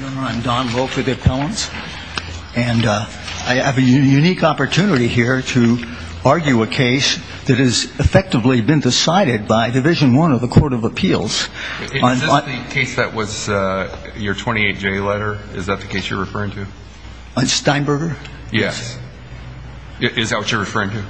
I'm Don Vogt for the Appellants. And I have a unique opportunity here to argue a case that has effectively been decided by Division I of the Court of Appeals. Is this the case that was your 28-J letter? Is that the case you're referring to? Steinberger? Yes. Is that what you're referring to?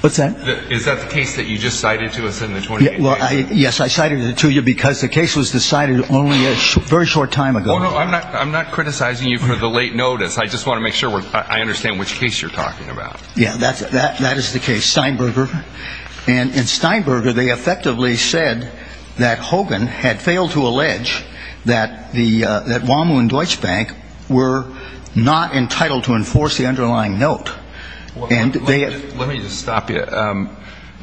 What's that? Is that the case that you just cited to us in the 28-J? Well, yes, I cited it to you because the case was decided only a very short time ago. I'm not criticizing you for the late notice. I just want to make sure I understand which case you're talking about. Yeah, that is the case, Steinberger. And in Steinberger, they effectively said that Hogan had failed to allege that WAMU and Deutsche Bank were not entitled to enforce the underlying note. Let me just stop you.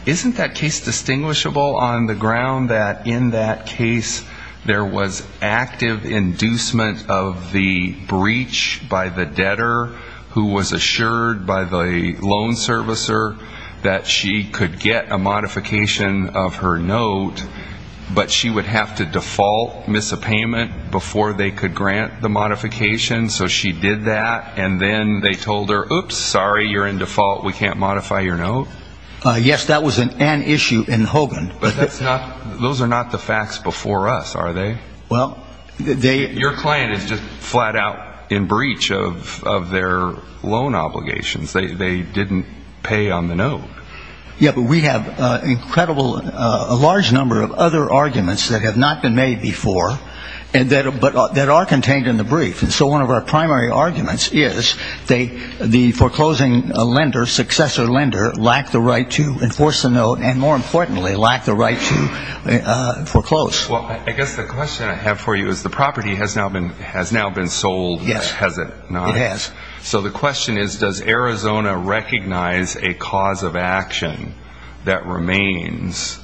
Isn't that case distinguishable on the ground that in that case there was active inducement of the breach by the debtor who was assured by the loan servicer that she could get a modification of her note, but she would have to default, miss a payment, before they could grant the modification? So she did that, and then they told her, Oops, sorry, you're in default. We can't modify your note. Yes, that was an issue in Hogan. But those are not the facts before us, are they? Well, they – Your client is just flat out in breach of their loan obligations. They didn't pay on the note. Yeah, but we have a large number of other arguments that have not been made before but that are contained in the brief. And so one of our primary arguments is the foreclosing lender, successor lender, lacked the right to enforce the note, and more importantly, lacked the right to foreclose. Well, I guess the question I have for you is the property has now been sold, has it not? Yes, it has. So the question is, does Arizona recognize a cause of action that remains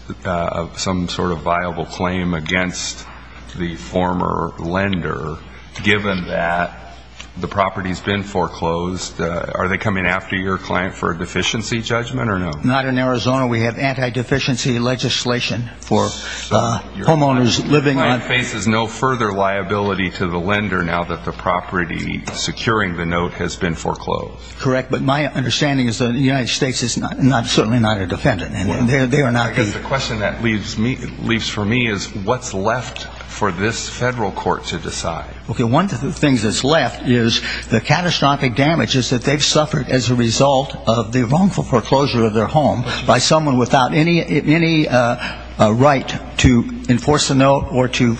some sort of viable claim against the former lender, given that the property has been foreclosed? Are they coming after your client for a deficiency judgment or no? Not in Arizona. We have anti-deficiency legislation for homeowners living on – Your client faces no further liability to the lender now that the property securing the note has been foreclosed. Correct. But my understanding is the United States is certainly not a defendant. I guess the question that leaves for me is what's left for this federal court to decide? Okay, one of the things that's left is the catastrophic damage is that they've suffered as a result of the wrongful foreclosure of their home by someone without any right to enforce the note or to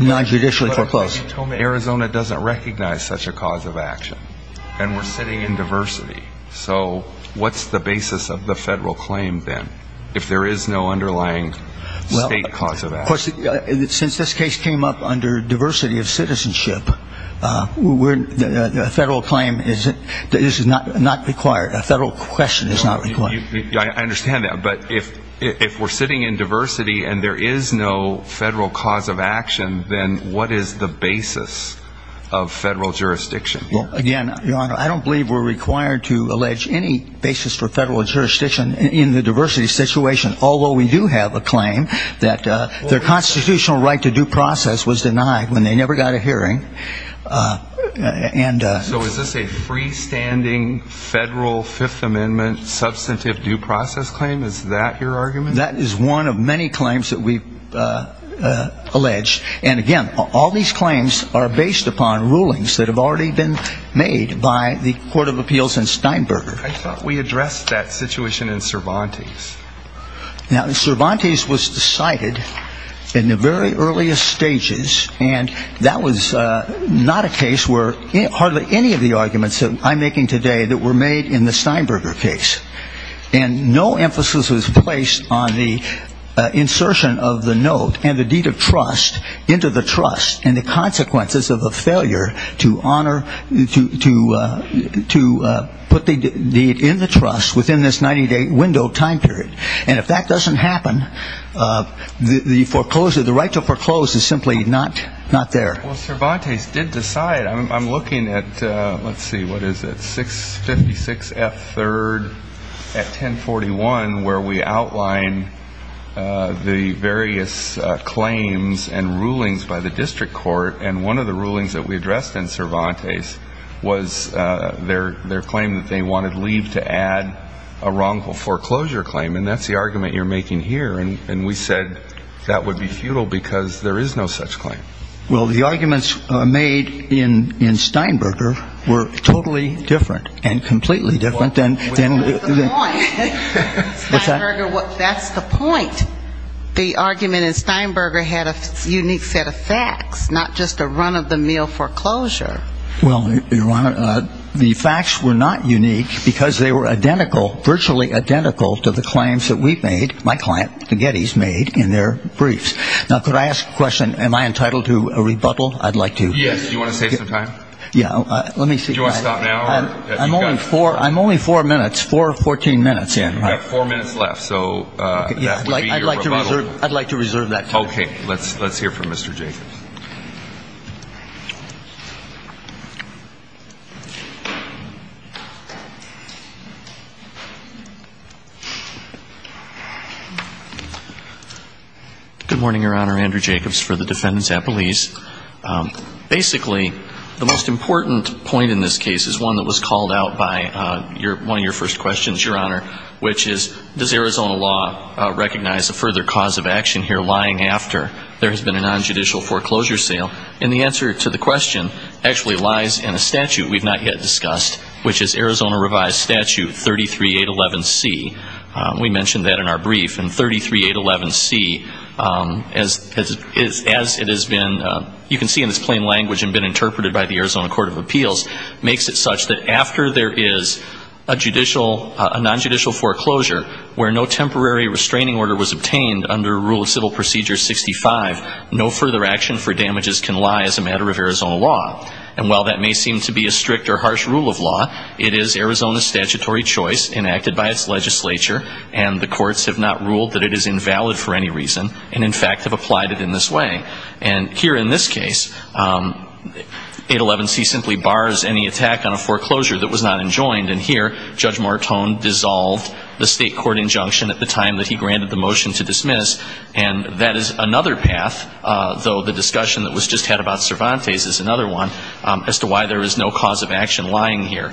non-judicially foreclose. Arizona doesn't recognize such a cause of action, and we're sitting in diversity. So what's the basis of the federal claim then if there is no underlying state cause of action? Since this case came up under diversity of citizenship, a federal claim is not required, a federal question is not required. I understand that. But if we're sitting in diversity and there is no federal cause of action, then what is the basis of federal jurisdiction? Again, Your Honor, I don't believe we're required to allege any basis for federal jurisdiction in the diversity situation, although we do have a claim that their constitutional right to due process was denied when they never got a hearing. So is this a freestanding federal Fifth Amendment substantive due process claim? Is that your argument? That is one of many claims that we've alleged. And, again, all these claims are based upon rulings that have already been made by the Court of Appeals in Steinberger. I thought we addressed that situation in Cervantes. Now, Cervantes was decided in the very earliest stages, and that was not a case where hardly any of the arguments that I'm making today that were made in the Steinberger case. And no emphasis was placed on the insertion of the note and the deed of trust into the trust and the consequences of a failure to honor, to put the deed in the trust within this 90-day window time period. And if that doesn't happen, the foreclosure, the right to foreclose is simply not there. Well, Cervantes did decide. I'm looking at, let's see, what is it, 656 F. 3rd at 1041, where we outline the various claims and rulings by the district court. And one of the rulings that we addressed in Cervantes was their claim that they wanted leave to add a wrongful foreclosure claim. And that's the argument you're making here. And we said that would be futile because there is no such claim. Well, the arguments made in Steinberger were totally different and completely different. That's the point. Steinberger, that's the point. The argument in Steinberger had a unique set of facts, not just a run-of-the-mill foreclosure. Well, Your Honor, the facts were not unique because they were identical, virtually identical to the claims that we made, my client, the Gettys, made in their briefs. Now, could I ask a question? Am I entitled to a rebuttal? I'd like to. Yes. Do you want to save some time? Yeah. Let me see. Do you want to stop now? I'm only four minutes, 414 minutes in. You have four minutes left. So that would be your rebuttal. I'd like to reserve that time. Okay. Let's hear from Mr. Jacobs. Good morning, Your Honor. Andrew Jacobs for the defendants at Belize. Basically, the most important point in this case is one that was called out by one of your first questions, Your Honor, which is, does Arizona law recognize a further cause of action here lying after there has been a nonjudicial foreclosure And the answer is no, Your Honor. And the answer to the question actually lies in a statute we've not yet discussed, which is Arizona Revised Statute 33811C. We mentioned that in our brief. And 33811C, as it has been, you can see in its plain language and been interpreted by the Arizona Court of Appeals, makes it such that after there is a judicial, a nonjudicial foreclosure where no temporary restraining order was obtained under Rule of Civil Procedure 65, no further action for damages can lie as a matter of Arizona law. And while that may seem to be a strict or harsh rule of law, it is Arizona's statutory choice enacted by its legislature, and the courts have not ruled that it is invalid for any reason and, in fact, have applied it in this way. And here in this case, 811C simply bars any attack on a foreclosure that was not enjoined. And here, Judge Martone dissolved the state court injunction at the time that he granted the motion to dismiss, and that is another path, though the discussion that was just had about Cervantes is another one, as to why there is no cause of action lying here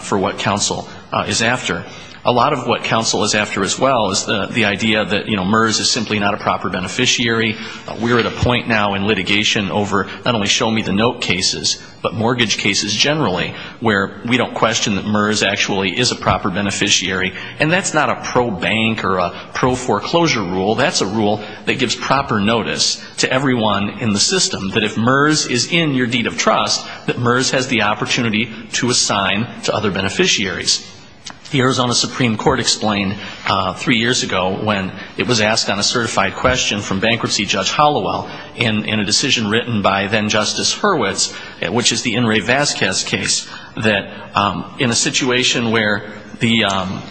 for what counsel is after. A lot of what counsel is after as well is the idea that, you know, MERS is simply not a proper beneficiary. We're at a point now in litigation over not only show-me-the-note cases, but mortgage cases generally, where we don't question that MERS actually is a proper beneficiary. And that's not a pro-bank or a pro-foreclosure rule. That's a rule that gives proper notice to everyone in the system, that if MERS is in your deed of trust, that MERS has the opportunity to assign to other beneficiaries. The Arizona Supreme Court explained three years ago when it was asked on a certified question from bankruptcy judge in a decision written by then-Justice Hurwitz, which is the In re Vazquez case, that in a situation where the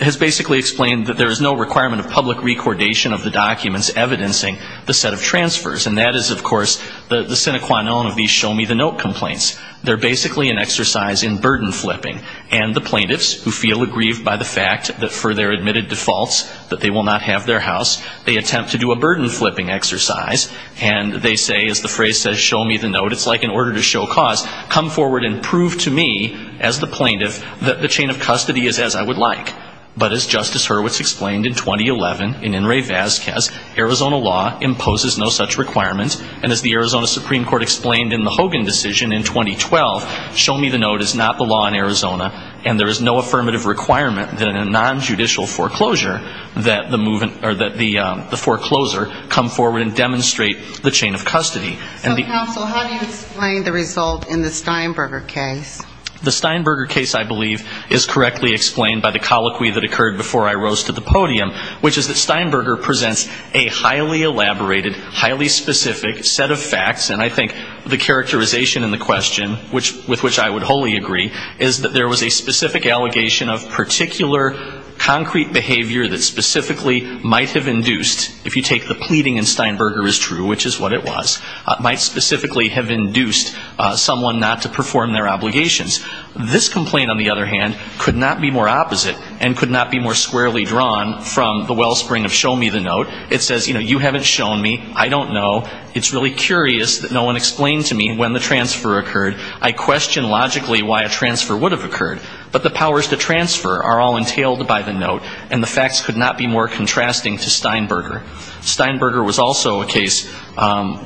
has basically explained that there is no requirement of public recordation of the documents evidencing the set of transfers, and that is, of course, the sine qua non of these show-me-the-note complaints. They're basically an exercise in burden flipping, and the plaintiffs, who feel aggrieved by the fact that for their admitted defaults that they will not have their house, they attempt to do a burden flipping exercise. And they say, as the phrase says, show-me-the-note, it's like an order to show cause. Come forward and prove to me, as the plaintiff, that the chain of custody is as I would like. But as Justice Hurwitz explained in 2011 in In re Vazquez, Arizona law imposes no such requirement, and as the Arizona Supreme Court explained in the Hogan decision in 2012, show-me-the-note is not the law in Arizona, and there is no affirmative requirement in a nonjudicial foreclosure that the forecloser come forward and demonstrate the chain of custody. And the ---- So, counsel, how do you explain the result in the Steinberger case? The Steinberger case, I believe, is correctly explained by the colloquy that occurred before I rose to the podium, which is that Steinberger presents a highly elaborated, highly specific set of facts, and I think the characterization in the question, with which I would wholly agree, is that there was a specific allegation of particular concrete behavior that specifically might have induced, if you take the pleading in Steinberger as true, which is what it was, might specifically have induced someone not to perform their obligations. This complaint, on the other hand, could not be more opposite and could not be more squarely drawn from the wellspring of show-me-the-note. It says, you know, you haven't shown me. I don't know. It's really curious that no one explained to me when the transfer occurred. I question logically why a transfer would have occurred. But the powers to transfer are all entailed by the note, and the facts could not be more contrasting to Steinberger. Steinberger was also a case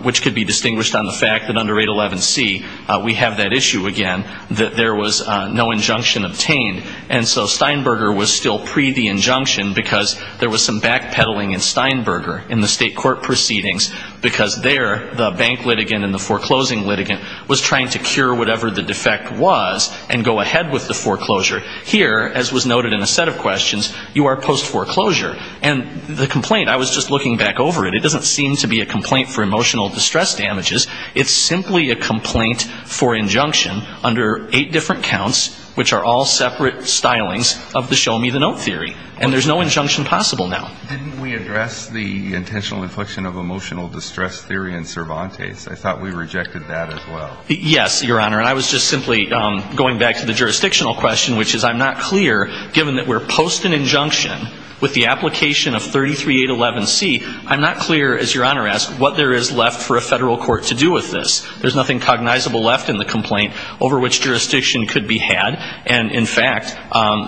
which could be distinguished on the fact that under 811C, we have that issue again, that there was no injunction obtained. And so Steinberger was still pre-the-injunction because there was some backpedaling in Steinberger in the state court proceedings because there the bank litigant and the foreclosing litigant was trying to cure whatever the defect was and go ahead with the foreclosure. Here, as was noted in a set of questions, you are post-foreclosure. And the complaint, I was just looking back over it. It doesn't seem to be a complaint for emotional distress damages. It's simply a complaint for injunction under eight different counts, which are all separate stylings of the show-me-the-note theory. And there's no injunction possible now. Didn't we address the intentional infliction of emotional distress theory in Cervantes? I thought we rejected that as well. Yes, Your Honor. And I was just simply going back to the jurisdictional question, which is I'm not clear, given that we're post an injunction with the application of 33811C, I'm not clear, as Your Honor asked, what there is left for a federal court to do with this. There's nothing cognizable left in the complaint over which jurisdiction could be had. And, in fact,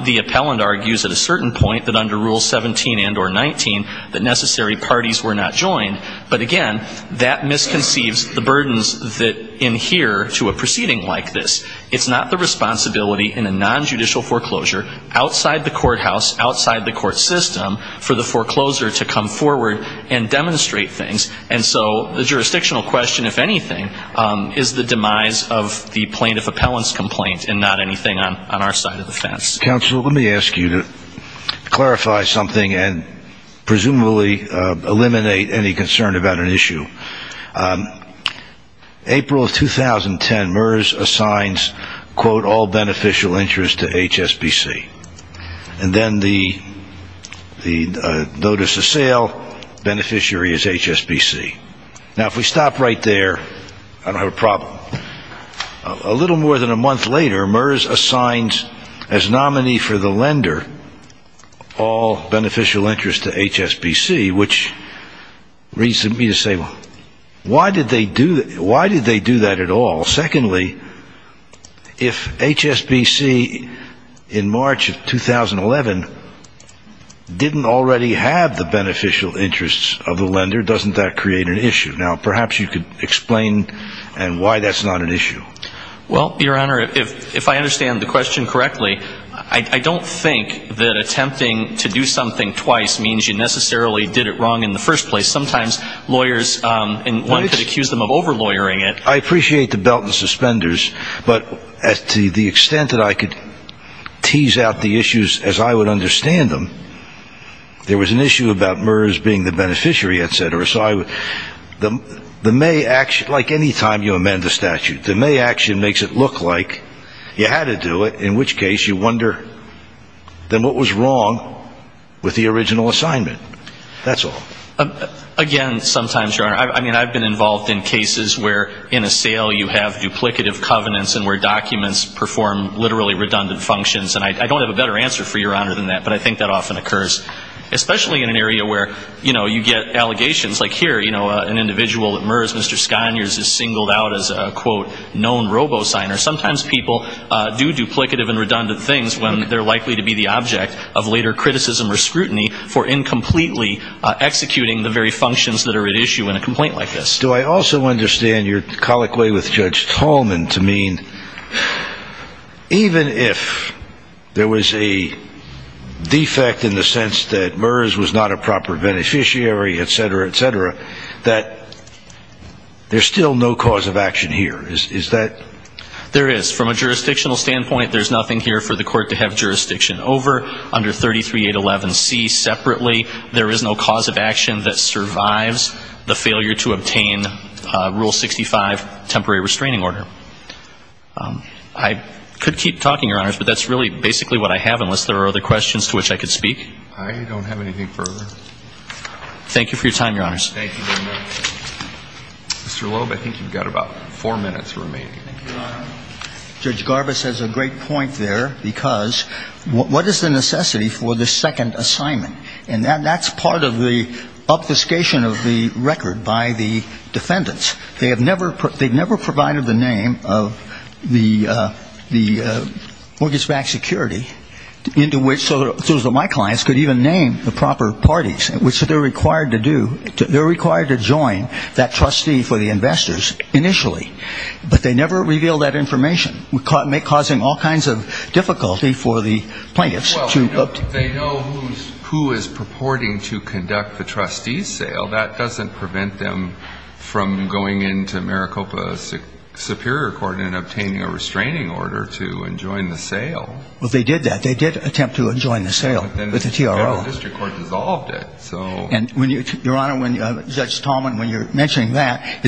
the appellant argues at a certain point that under Rule 17 and or 19 that necessary parties were not joined. But, again, that misconceives the burdens that adhere to a proceeding like this. It's not the responsibility in a nonjudicial foreclosure outside the courthouse, outside the court system, for the foreclosure to come forward and demonstrate things. And so the jurisdictional question, if anything, is the demise of the plaintiff appellant's complaint and not anything on our side of the fence. Counsel, let me ask you to clarify something and presumably eliminate any concern about an issue. April of 2010, MERS assigns, quote, all beneficial interest to HSBC. And then the notice of sale beneficiary is HSBC. Now, if we stop right there, I don't have a problem. A little more than a month later, MERS assigns as nominee for the lender all beneficial interest to HSBC, which leads me to say, well, why did they do that at all? Secondly, if HSBC in March of 2011 didn't already have the beneficial interests of the lender, doesn't that create an issue? Now, perhaps you could explain why that's not an issue. Well, Your Honor, if I understand the question correctly, I don't think that attempting to do something twice means you necessarily did it wrong in the first place. Sometimes lawyers, and one could accuse them of over-lawyering it. I appreciate the belt and suspenders, but to the extent that I could tease out the issues as I would understand them, there was an issue about MERS being the beneficiary, et cetera. So the May action, like any time you amend a statute, the May action makes it look like you had to do it, in which case you wonder then what was wrong with the original assignment. That's all. Again, sometimes, Your Honor, I mean, I've been involved in cases where in a sale you have duplicative covenants and where documents perform literally redundant functions, and I don't have a better answer for Your Honor than that, but I think that often occurs, especially in an area where, you know, you get allegations. Like here, you know, an individual at MERS, Mr. Sconiers, is singled out as a, quote, known robo-signer. Sometimes people do duplicative and redundant things when they're likely to be the object of later criticism or scrutiny for incompletely executing the very functions that are at issue in a complaint like this. Do I also understand your colloquy with Judge Tolman to mean even if there was a defect in the sense that MERS was not a proper beneficiary, et cetera, et cetera, that there's still no cause of action here. Is that? There is. From a jurisdictional standpoint, there's nothing here for the court to have jurisdiction over under 33811C separately. There is no cause of action that survives the failure to obtain Rule 65 temporary restraining order. I could keep talking, Your Honors, but that's really basically what I have unless there are other questions to which I could speak. I don't have anything further. Thank you for your time, Your Honors. Thank you very much. Mr. Loeb, I think you've got about four minutes remaining. Thank you, Your Honor. Judge Garbus has a great point there because what is the necessity for this second assignment? And that's part of the obfuscation of the record by the defendants. They have never provided the name of the mortgage-backed security into which my clients could even name the proper parties, which they're required to do. They're required to join that trustee for the investors initially. But they never reveal that information, causing all kinds of difficulty for the plaintiffs. Well, they know who is purporting to conduct the trustee sale. That doesn't prevent them from going into Maricopa Superior Court and obtaining a restraining order to enjoin the sale. Well, they did that. They did attempt to enjoin the sale with the TRO. But then the Federal District Court dissolved it. And, Your Honor, when Judge Tallman, when you're mentioning that,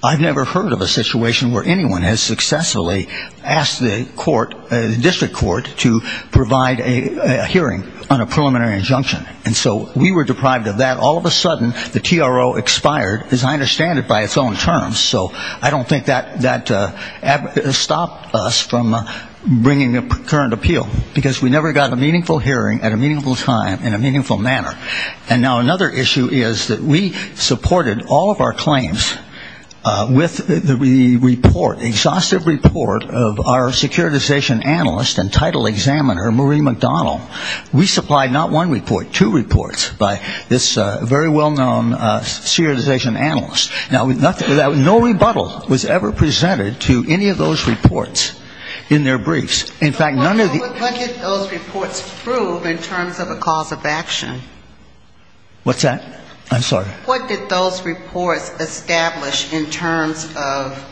I've never heard of a situation where anyone has successfully asked the court, the district court, to provide a hearing on a preliminary injunction. And so we were deprived of that. All of a sudden, the TRO expired, as I understand it, by its own terms. So I don't think that stopped us from bringing a current appeal. Because we never got a meaningful hearing at a meaningful time in a meaningful manner. And now another issue is that we supported all of our claims with the report, exhaustive report of our securitization analyst and title examiner, Marie McDonald. We supplied not one report, two reports by this very well-known securitization analyst. Now, no rebuttal was ever presented to any of those reports in their briefs. In fact, none of the ‑‑ What did those reports prove in terms of a cause of action? What's that? I'm sorry. What did those reports establish in terms of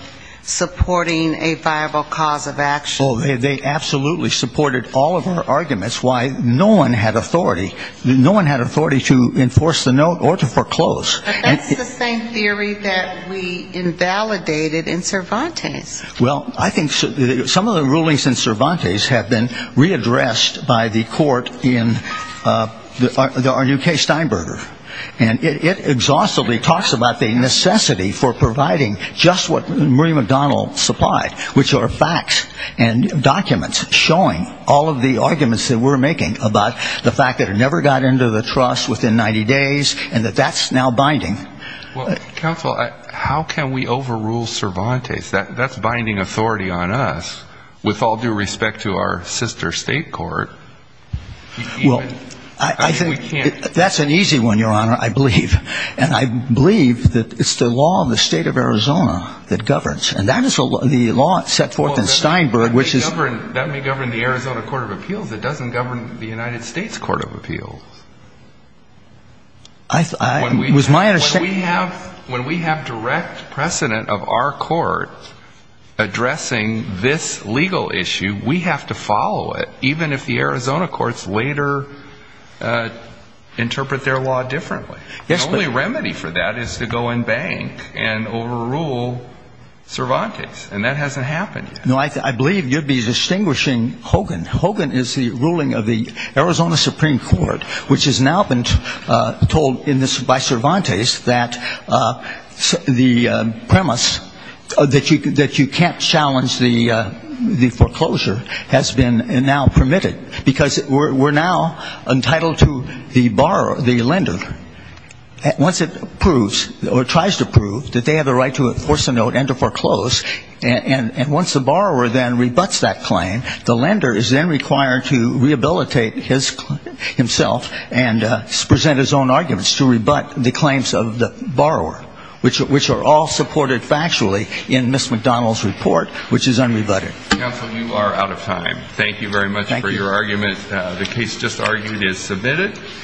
supporting a viable cause of action? Oh, they absolutely supported all of our arguments why no one had authority. No one had authority to enforce the note or to foreclose. But that's the same theory that we invalidated in Cervantes. Well, I think some of the rulings in Cervantes have been readdressed by the court in our new case Steinberger. And it exhaustively talks about the necessity for providing just what Marie McDonald supplied, which are facts and documents showing all of the arguments that we're making about the fact that it never got into the trust within 90 days and that that's now binding. Counsel, how can we overrule Cervantes? That's binding authority on us with all due respect to our sister state court. Well, I think that's an easy one, Your Honor, I believe. And I believe that it's the law in the state of Arizona that governs. And that is the law set forth in Steinberg, which is ‑‑ That may govern the Arizona Court of Appeals. It doesn't govern the United States Court of Appeals. When we have direct precedent of our court addressing this legal issue, we have to follow it, even if the Arizona courts later interpret their law differently. The only remedy for that is to go and bank and overrule Cervantes. And that hasn't happened yet. No, I believe you'd be distinguishing Hogan. Hogan is the ruling of the Arizona Supreme Court. Which has now been told by Cervantes that the premise that you can't challenge the foreclosure has been now permitted. Because we're now entitled to the borrower, the lender, once it approves or tries to approve, that they have the right to enforce a note and to foreclose. And once the borrower then rebuts that claim, the lender is then required to rehabilitate himself and present his own arguments to rebut the claims of the borrower, which are all supported factually in Ms. McDonald's report, which is unrebutted. Counsel, you are out of time. Thank you very much for your argument. The case just argued is submitted.